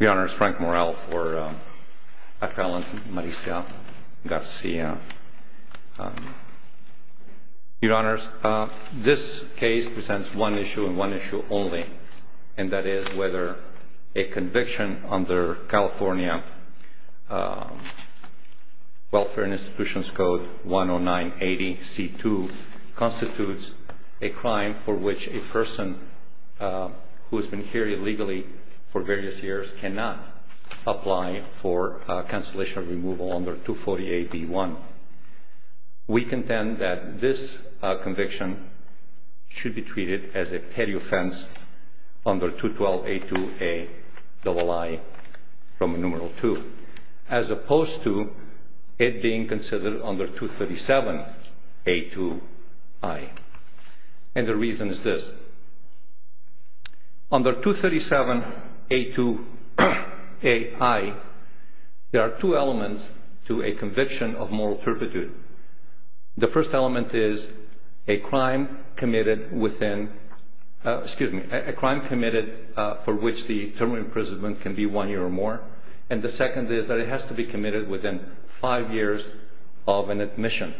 Your Honors, Frank Morrell for Appellant Maricia Garcia Your Honors, this case presents one issue and one issue only and that is whether a conviction under California Welfare and Institutions Code 10980C2 constitutes a crime for which a person who has been here illegally for various years cannot apply for cancellation or removal under 248B1. We contend that this conviction should be treated as a petty offense under 212A2AII from numeral 2 as opposed to it being considered under 237A2AII. And the reason is this. Under 237A2AII, there are two elements to a conviction of moral turpitude. The first element is a crime committed for which the term of imprisonment can be one year or more and the second is that it has to be committed within five years of an admission.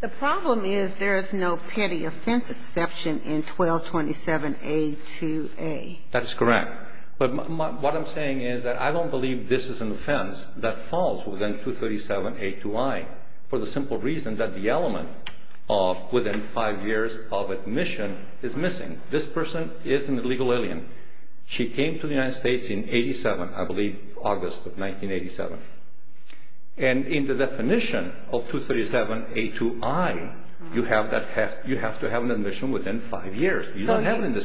The problem is there is no petty offense exception in 1227A2A. That is correct. But what I'm saying is that I don't believe this is an offense that falls within 237A2I for the simple reason that the element of within five years of admission is missing. This person is an illegal alien. She came to the United States in 87, I believe August of 1987. And in the definition of 237A2I, you have to have an admission within five years.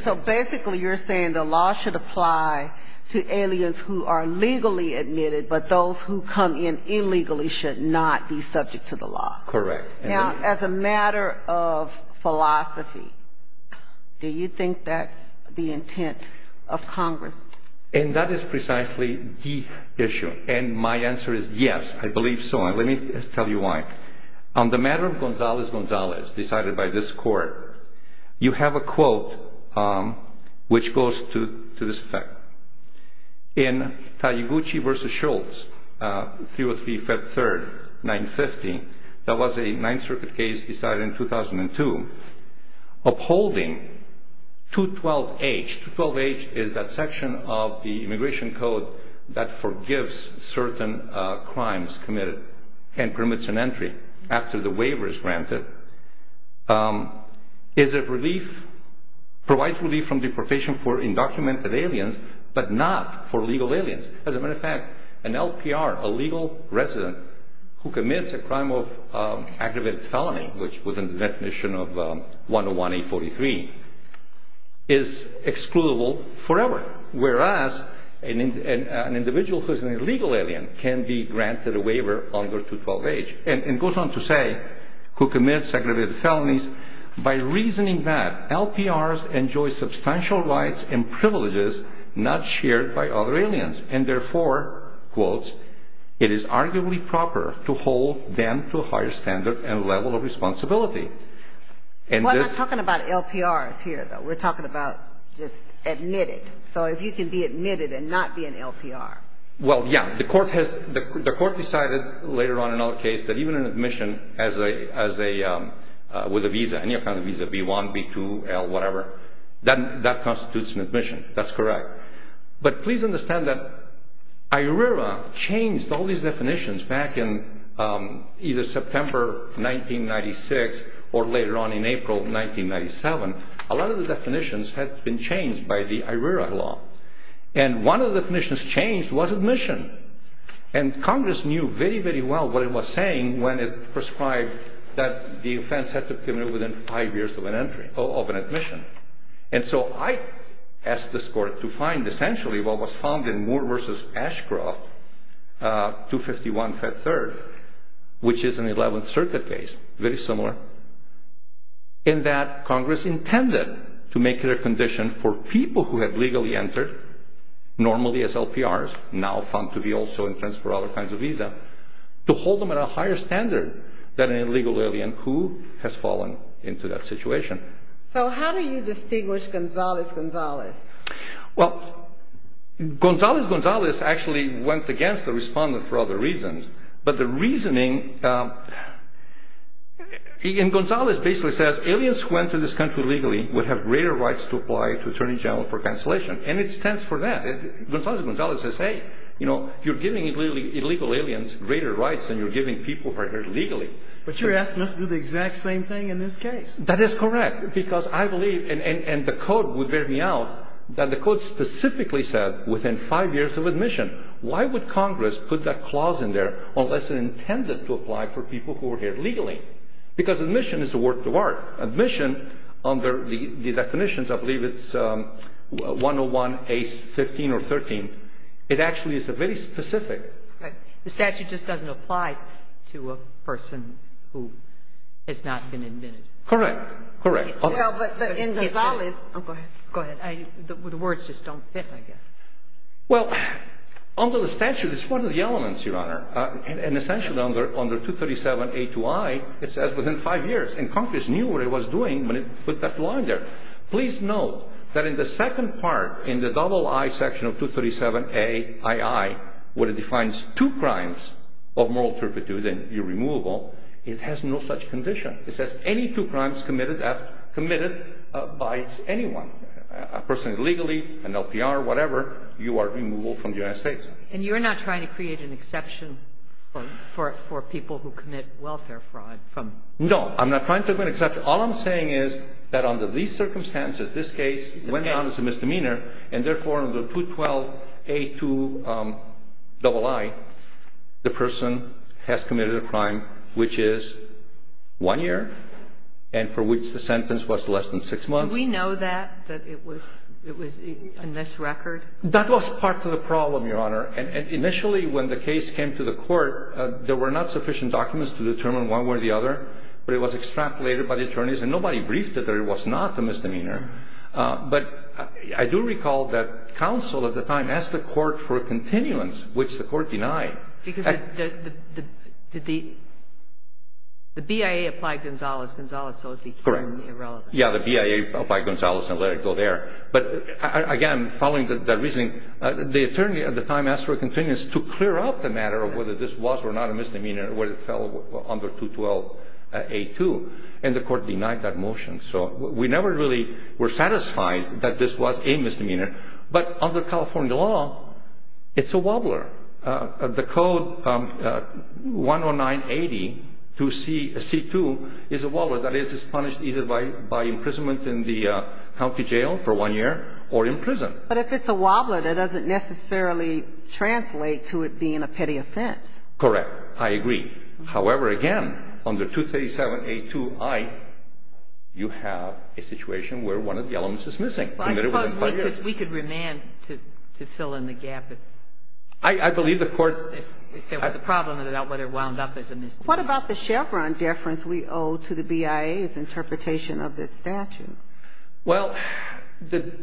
So basically you're saying the law should apply to aliens who are legally admitted but those who come in illegally should not be subject to the law. Correct. Now, as a matter of philosophy, do you think that's the intent of Congress? And that is precisely the issue. And my answer is yes, I believe so. And let me tell you why. On the matter of Gonzalez-Gonzalez decided by this court, you have a quote which goes to this effect. In Taguchi v. Schultz, 303, Feb. 3, 1950, that was a Ninth Circuit case decided in 2002. Upholding 212H. 212H is that section of the Immigration Code that forgives certain crimes committed and permits an entry after the waiver is granted. It provides relief from deportation for undocumented aliens but not for legal aliens. As a matter of fact, an LPR, a legal resident, who commits a crime of aggravated felony, which was in the definition of 101A43, is excludable forever. Whereas an individual who is an illegal alien can be granted a waiver under 212H. And it goes on to say who commits aggravated felonies by reasoning that LPRs enjoy substantial rights and privileges not shared by other aliens. And therefore, quotes, it is arguably proper to hold them to a higher standard and level of responsibility. We're not talking about LPRs here, though. We're talking about just admitted. So if you can be admitted and not be an LPR. Well, yeah, the court decided later on in our case that even an admission with a visa, any kind of visa, B-1, B-2, L, whatever, that constitutes an admission. That's correct. But please understand that IRERA changed all these definitions back in either September 1996 or later on in April 1997. A lot of the definitions had been changed by the IRERA law. And one of the definitions changed was admission. And Congress knew very, very well what it was saying when it prescribed that the offense had to be committed within five years of an admission. And so I asked this court to find essentially what was found in Moore v. Ashcroft 251F3, which is an 11th Circuit case, very similar, in that Congress intended to make it a condition for people who had legally entered, normally as LPRs, now found to be also entrenched for other kinds of visa, to hold them at a higher standard than an illegal alien who has fallen into that situation. So how do you distinguish Gonzales-Gonzales? Well, Gonzales-Gonzales actually went against the respondent for other reasons. But the reasoning in Gonzales basically says aliens who enter this country legally would have greater rights to apply to Attorney General for cancellation. And it stands for that. Gonzales-Gonzales says, hey, you know, you're giving illegal aliens greater rights than you're giving people who are here legally. But you're asking us to do the exact same thing in this case. That is correct. Because I believe, and the code would bear me out, that the code specifically said within five years of admission. Why would Congress put that clause in there unless it intended to apply for people who were here legally? Because admission is a work of art. Admission, under the definitions, I believe it's 101A15 or 13, it actually is a very specific. Right. The statute just doesn't apply to a person who has not been admitted. Correct. Correct. Well, but in Gonzales – oh, go ahead. Go ahead. The words just don't fit, I guess. Well, under the statute, it's one of the elements, Your Honor. And essentially under 237A2I, it says within five years. And Congress knew what it was doing when it put that law in there. Please note that in the second part, in the double I section of 237AII, where it defines two crimes of moral turpitude and irremovable, it has no such condition. It says any two crimes committed by anyone, a person illegally, an LPR, whatever, you are removable from the United States. And you're not trying to create an exception for people who commit welfare fraud from – No, I'm not trying to create an exception. All I'm saying is that under these circumstances, this case went down as a misdemeanor, and therefore under 212A2II, the person has committed a crime which is one year and for which the sentence was less than six months. Do we know that, that it was in this record? That was part of the problem, Your Honor. And initially when the case came to the court, there were not sufficient documents to determine one way or the other, but it was extrapolated by the attorneys, and nobody briefed it that it was not a misdemeanor. But I do recall that counsel at the time asked the court for a continuance, which the court denied. Because the BIA applied Gonzales. Gonzales was the key and irrelevant. Correct. Yeah, the BIA applied Gonzales and let it go there. But, again, following that reasoning, the attorney at the time asked for a continuance to clear up the matter of whether this was or not a misdemeanor when it fell under 212A2, and the court denied that motion. So we never really were satisfied that this was a misdemeanor. But under California law, it's a wobbler. That is, it's punished either by imprisonment in the county jail for one year or in prison. But if it's a wobbler, that doesn't necessarily translate to it being a petty offense. Correct. I agree. However, again, under 237A2i, you have a situation where one of the elements is missing. I suppose we could remand to fill in the gap if there was a problem about whether it wound up as a misdemeanor. What about the Chevron deference we owe to the BIA's interpretation of this statute? Well, the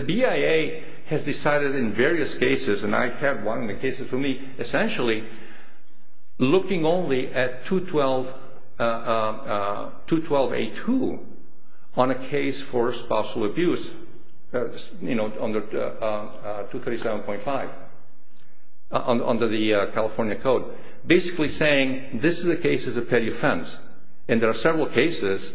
BIA has decided in various cases, and I had one of the cases for me, essentially, looking only at 212A2 on a case for spousal abuse, you know, under 237.5, under the California Code, basically saying this is a case as a petty offense. And there are several cases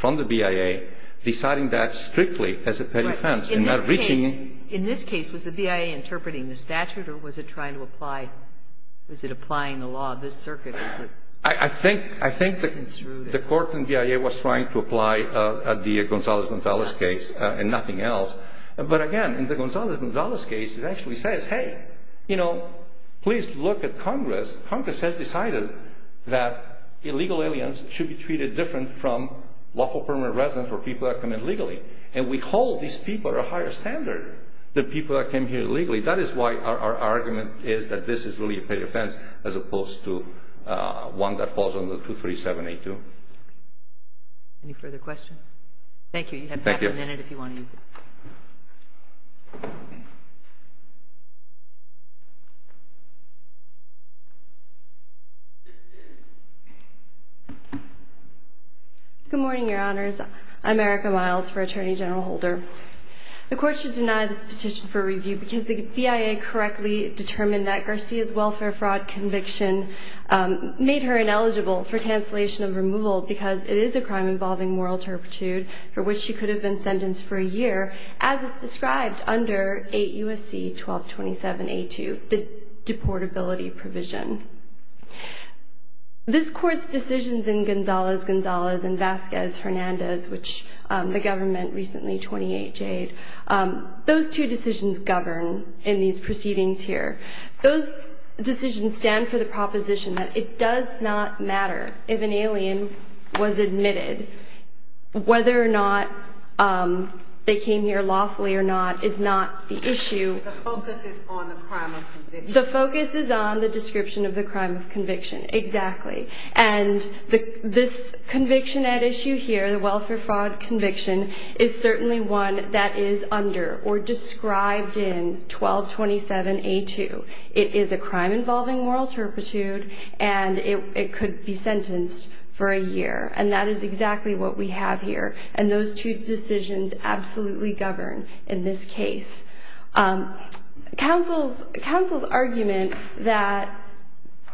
from the BIA deciding that strictly as a petty offense and not reaching it. In this case, was the BIA interpreting the statute, or was it trying to apply the law of this circuit? I think the court in BIA was trying to apply the Gonzalez-Gonzalez case and nothing else. But again, in the Gonzalez-Gonzalez case, it actually says, hey, you know, please look at Congress. Congress has decided that illegal aliens should be treated different from lawful permanent residents or people that come in legally. And we hold these people at a higher standard than people that came here illegally. That is why our argument is that this is really a petty offense as opposed to one that falls under 237A2. Any further questions? Thank you. Thank you. Good morning, Your Honors. I'm Erica Miles for Attorney General Holder. The court should deny this petition for review because the BIA correctly determined that Garcia's welfare fraud conviction made her ineligible for cancellation of removal because it is a crime involving moral turpitude for which she could have been sentenced for a year, as is described under 8 U.S.C. 1227A2, the deportability provision. This Court's decisions in Gonzalez-Gonzalez and Vasquez-Hernandez, which the government recently 28J'd, those two decisions govern in these proceedings here. Those decisions stand for the proposition that it does not matter if an alien was admitted, whether or not they came here lawfully or not is not the issue. The focus is on the crime of conviction. The focus is on the description of the crime of conviction, exactly. And this conviction at issue here, the welfare fraud conviction, is certainly one that is under or described in 1227A2. It is a crime involving moral turpitude and it could be sentenced for a year. And that is exactly what we have here. And those two decisions absolutely govern in this case. Counsel's argument that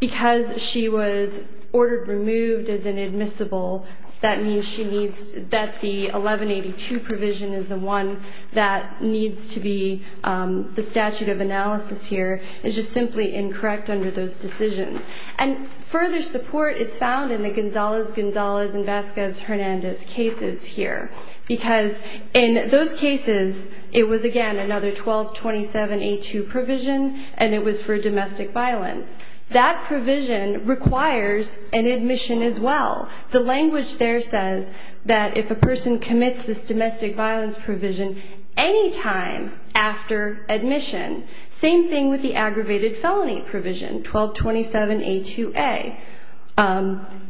because she was ordered removed as inadmissible, that means she needs, that the 1182 provision is the one that needs to be the statute of analysis here is just simply incorrect under those decisions. And further support is found in the Gonzalez-Gonzalez and Vasquez-Hernandez cases here. Because in those cases, it was, again, another 1227A2 provision and it was for domestic violence. That provision requires an admission as well. The language there says that if a person commits this domestic violence provision any time after admission, same thing with the aggravated felony provision, 1227A2A,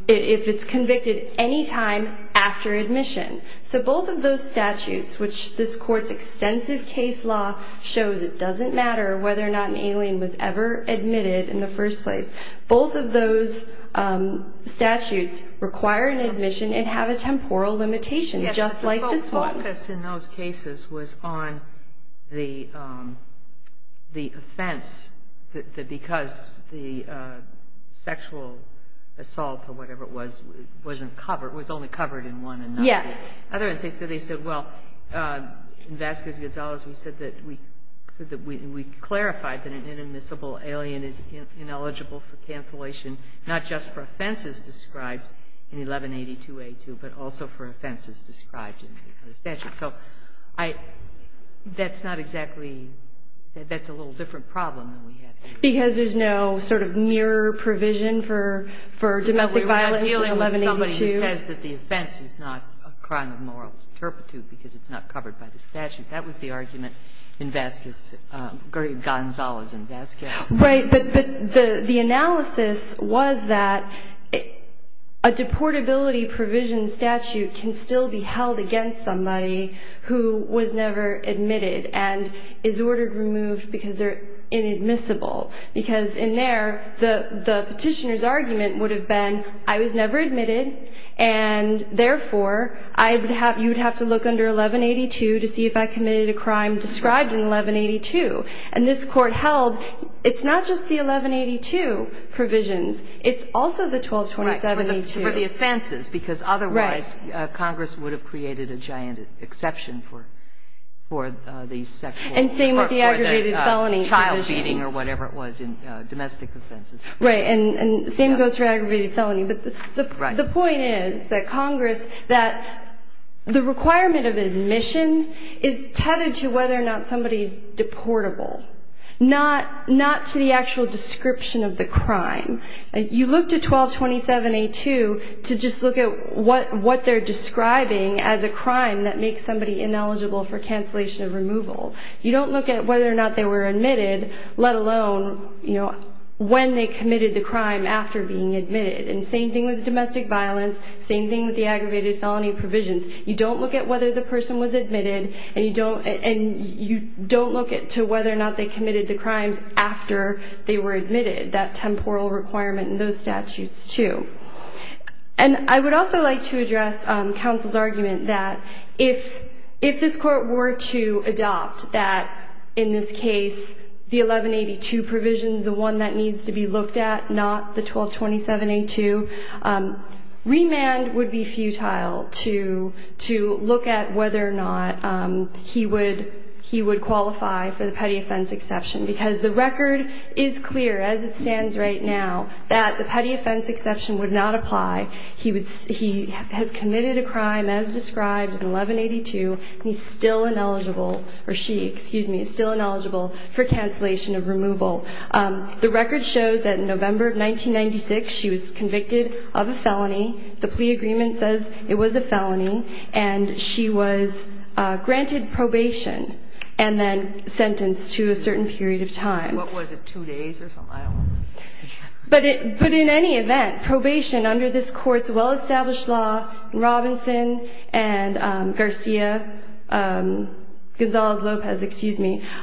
if it's convicted any time after admission. So both of those statutes, which this court's extensive case law shows it doesn't matter whether or not an alien was ever admitted in the first place, both of those statutes require an admission and have a temporal limitation just like this one. Yes, the focus in those cases was on the offense that because the sexual assault or whatever it was, it wasn't covered. It was only covered in one. Yes. In other words, they said, well, in Vasquez-Gonzalez, we said that we clarified that an inadmissible alien is ineligible for cancellation, not just for offenses described in 1182A2, but also for offenses described in the statute. So I – that's not exactly – that's a little different problem than we have here. Because there's no sort of near provision for domestic violence in 1182? Because we were not dealing with somebody who says that the offense is not a crime of moral turpitude because it's not covered by the statute. That was the argument in Vasquez – Gonzalez and Vasquez. Right. But the analysis was that a deportability provision statute can still be held against somebody who was never admitted and is ordered removed because they're inadmissible. Because in there, the Petitioner's argument would have been, I was never admitted and, therefore, I would have – you would have to look under 1182 to see if I committed a crime described in 1182. And this Court held it's not just the 1182 provisions. It's also the 1227A2. Right. For the offenses. Because otherwise Congress would have created a giant exception for these sexual or for the child beating or whatever it was in domestic offenses. Right. And the same goes for aggravated felony. But the point is that Congress – that the requirement of admission is tethered to whether or not somebody's deportable, not to the actual description of the crime. You look to 1227A2 to just look at what they're describing as a crime that makes somebody ineligible for cancellation of removal. You don't look at whether or not they were admitted, let alone, you know, when they committed the crime. Same thing with domestic violence. Same thing with the aggravated felony provisions. You don't look at whether the person was admitted. And you don't – and you don't look at to whether or not they committed the crimes after they were admitted. That temporal requirement in those statutes, too. And I would also like to address counsel's argument that if this Court were to adopt that, in this case, the 1182 provisions, the one that needs to be looked at, not the 1227A2, remand would be futile to look at whether or not he would – he would qualify for the petty offense exception. Because the record is clear, as it stands right now, that the petty offense exception would not apply. He would – he has committed a crime, as described in 1182, and he's still ineligible – or she, excuse me, is still ineligible for cancellation of removal. The record shows that in November of 1996, she was convicted of a felony. The plea agreement says it was a felony. And she was granted probation and then sentenced to a certain period of time. What was it? Two days or something? I don't remember. But in any event, probation under this Court's well-established law in Robinson and Garcia – Gonzales-Lopez, excuse me –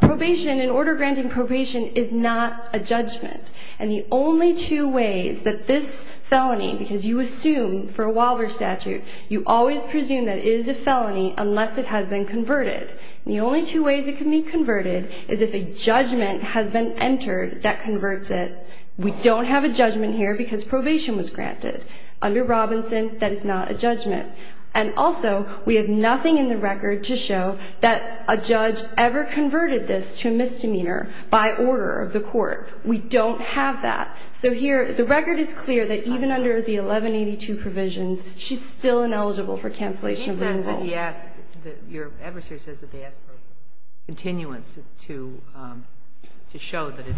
probation, an order granting probation, is not a judgment. And the only two ways that this felony – because you assume, for a Walbridge statute, you always presume that it is a felony unless it has been converted. And the only two ways it can be converted is if a judgment has been entered that converts it. We don't have a judgment here because probation was granted. Under Robinson, that is not a judgment. And also, we have nothing in the record to show that a judge ever converted this to a misdemeanor by order of the Court. We don't have that. So here – the record is clear that even under the 1182 provisions, she's still ineligible for cancellation of removal. Your adversary says that they asked for continuance to show that it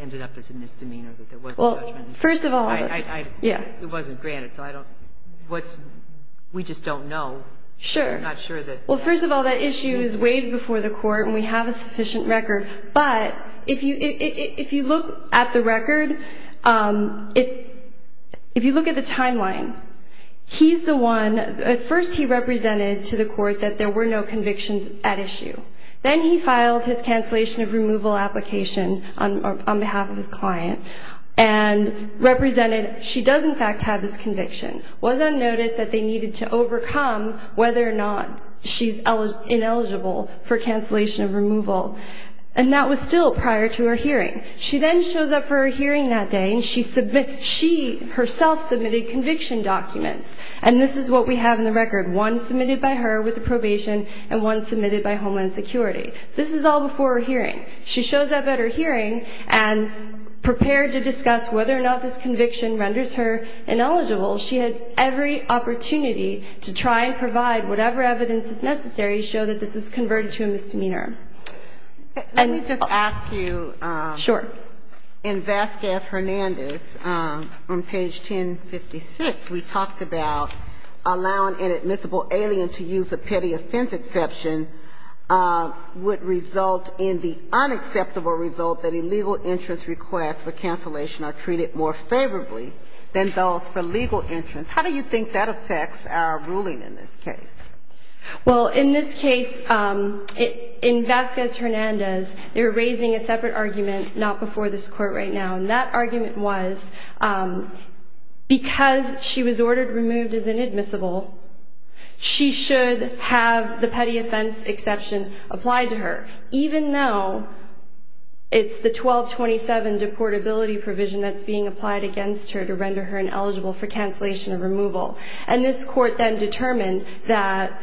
ended up as a misdemeanor, that there was a judgment. Well, first of all – It wasn't granted. So I don't – what's – we just don't know. Sure. I'm not sure that – Well, first of all, that issue is weighed before the Court, and we have a sufficient record. But if you look at the record, if you look at the timeline, he's the one – at first he represented to the Court that there were no convictions at issue. Then he filed his cancellation of removal application on behalf of his client and represented she does, in fact, have this conviction, was on notice that they needed to overcome whether or not she's ineligible for cancellation of removal. And that was still prior to her hearing. She then shows up for her hearing that day, and she submitted – she herself submitted conviction documents. And this is what we have in the record, one submitted by her with the probation and one submitted by Homeland Security. This is all before her hearing. She shows up at her hearing and prepared to discuss whether or not this conviction renders her ineligible. She had every opportunity to try and provide whatever evidence is necessary to show that this is converted to a misdemeanor. Let me just ask you – Sure. In Vasquez-Hernandez, on page 1056, we talked about allowing an admissible alien to use a petty offense exception would result in the unacceptable result that illegal entrance requests for cancellation are treated more favorably than those for legal entrance. How do you think that affects our ruling in this case? Well, in this case, in Vasquez-Hernandez, they were raising a separate argument, not before this Court right now. And that argument was because she was ordered removed as inadmissible, she should have the petty offense exception applied to her, even though it's the 1227 deportability provision that's being applied against her to render her ineligible for cancellation or removal. And this Court then determined that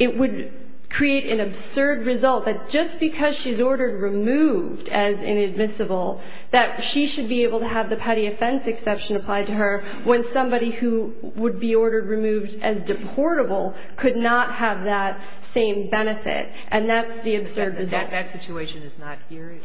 it would create an absurd result that just because she's ordered removed as inadmissible, that she should be able to have the petty offense exception applied to her when somebody who would be ordered removed as deportable could not have that same benefit. And that's the absurd result. That situation is not here?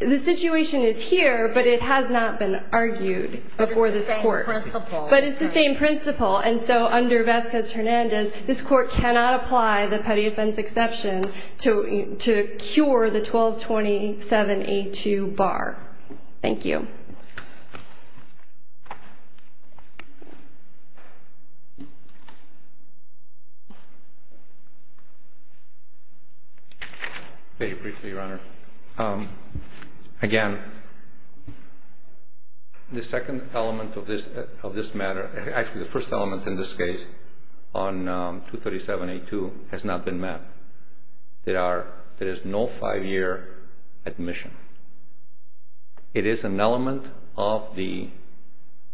The situation is here, but it has not been argued before this Court. But it's the same principle. But it's the same principle. And so under Vasquez-Hernandez, this Court cannot apply the petty offense exception to cure the 1227A2 bar. Thank you. Very briefly, Your Honor. Again, the second element of this matter, actually the first element in this case on 237A2 has not been met. There is no five-year admission. It is an element of the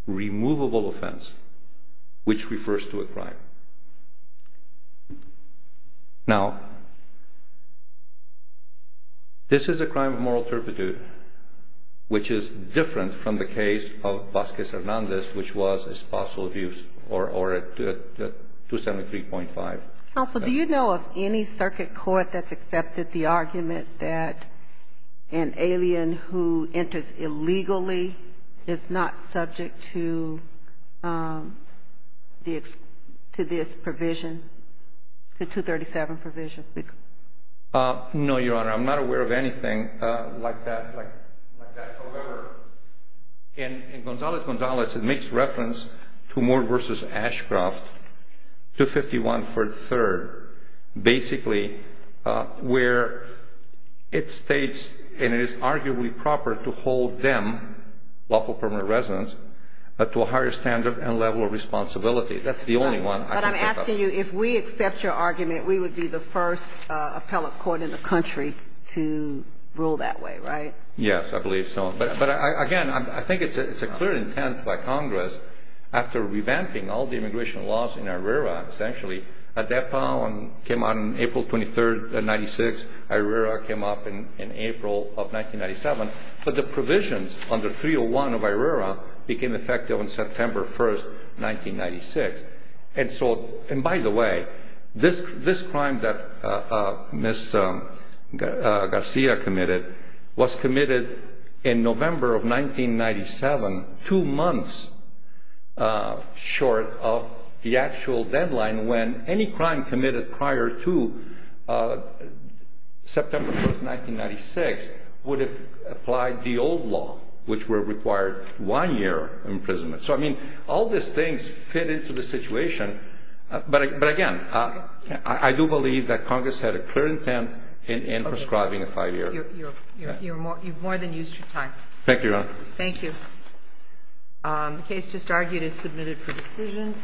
removable offense, which refers to a crime. Now, this is a crime of moral turpitude, which is different from the case of Vasquez-Hernandez, which was espousal abuse or 273.5. Counsel, do you know of any circuit court that's accepted the argument that an alien who enters illegally is not subject to this provision, the 237 provision? No, Your Honor. I'm not aware of anything like that. However, in Gonzalez-Gonzalez, it makes reference to Moore v. Ashcroft, 251 for the third, basically, where it states, and it is arguably proper to hold them, lawful permanent residents, to a higher standard and level of responsibility. That's the only one I can think of. But I'm asking you, if we accept your argument, we would be the first appellate court in the country to rule that way, right? Yes, I believe so. But, again, I think it's a clear intent by Congress, after revamping all the immigration laws in Irera, essentially, ADEPA came out on April 23, 1996. Irera came up in April of 1997. But the provisions under 301 of Irera became effective on September 1, 1996. And, by the way, this crime that Ms. Garcia committed was committed in November of 1997, two months short of the actual deadline, when any crime committed prior to September 1, 1996 would have applied the old law, which would have required one year imprisonment. So, I mean, all these things fit into the situation. But, again, I do believe that Congress had a clear intent in prescribing a five-year. You've more than used your time. Thank you, Your Honor. Thank you. The case just argued is submitted for decision.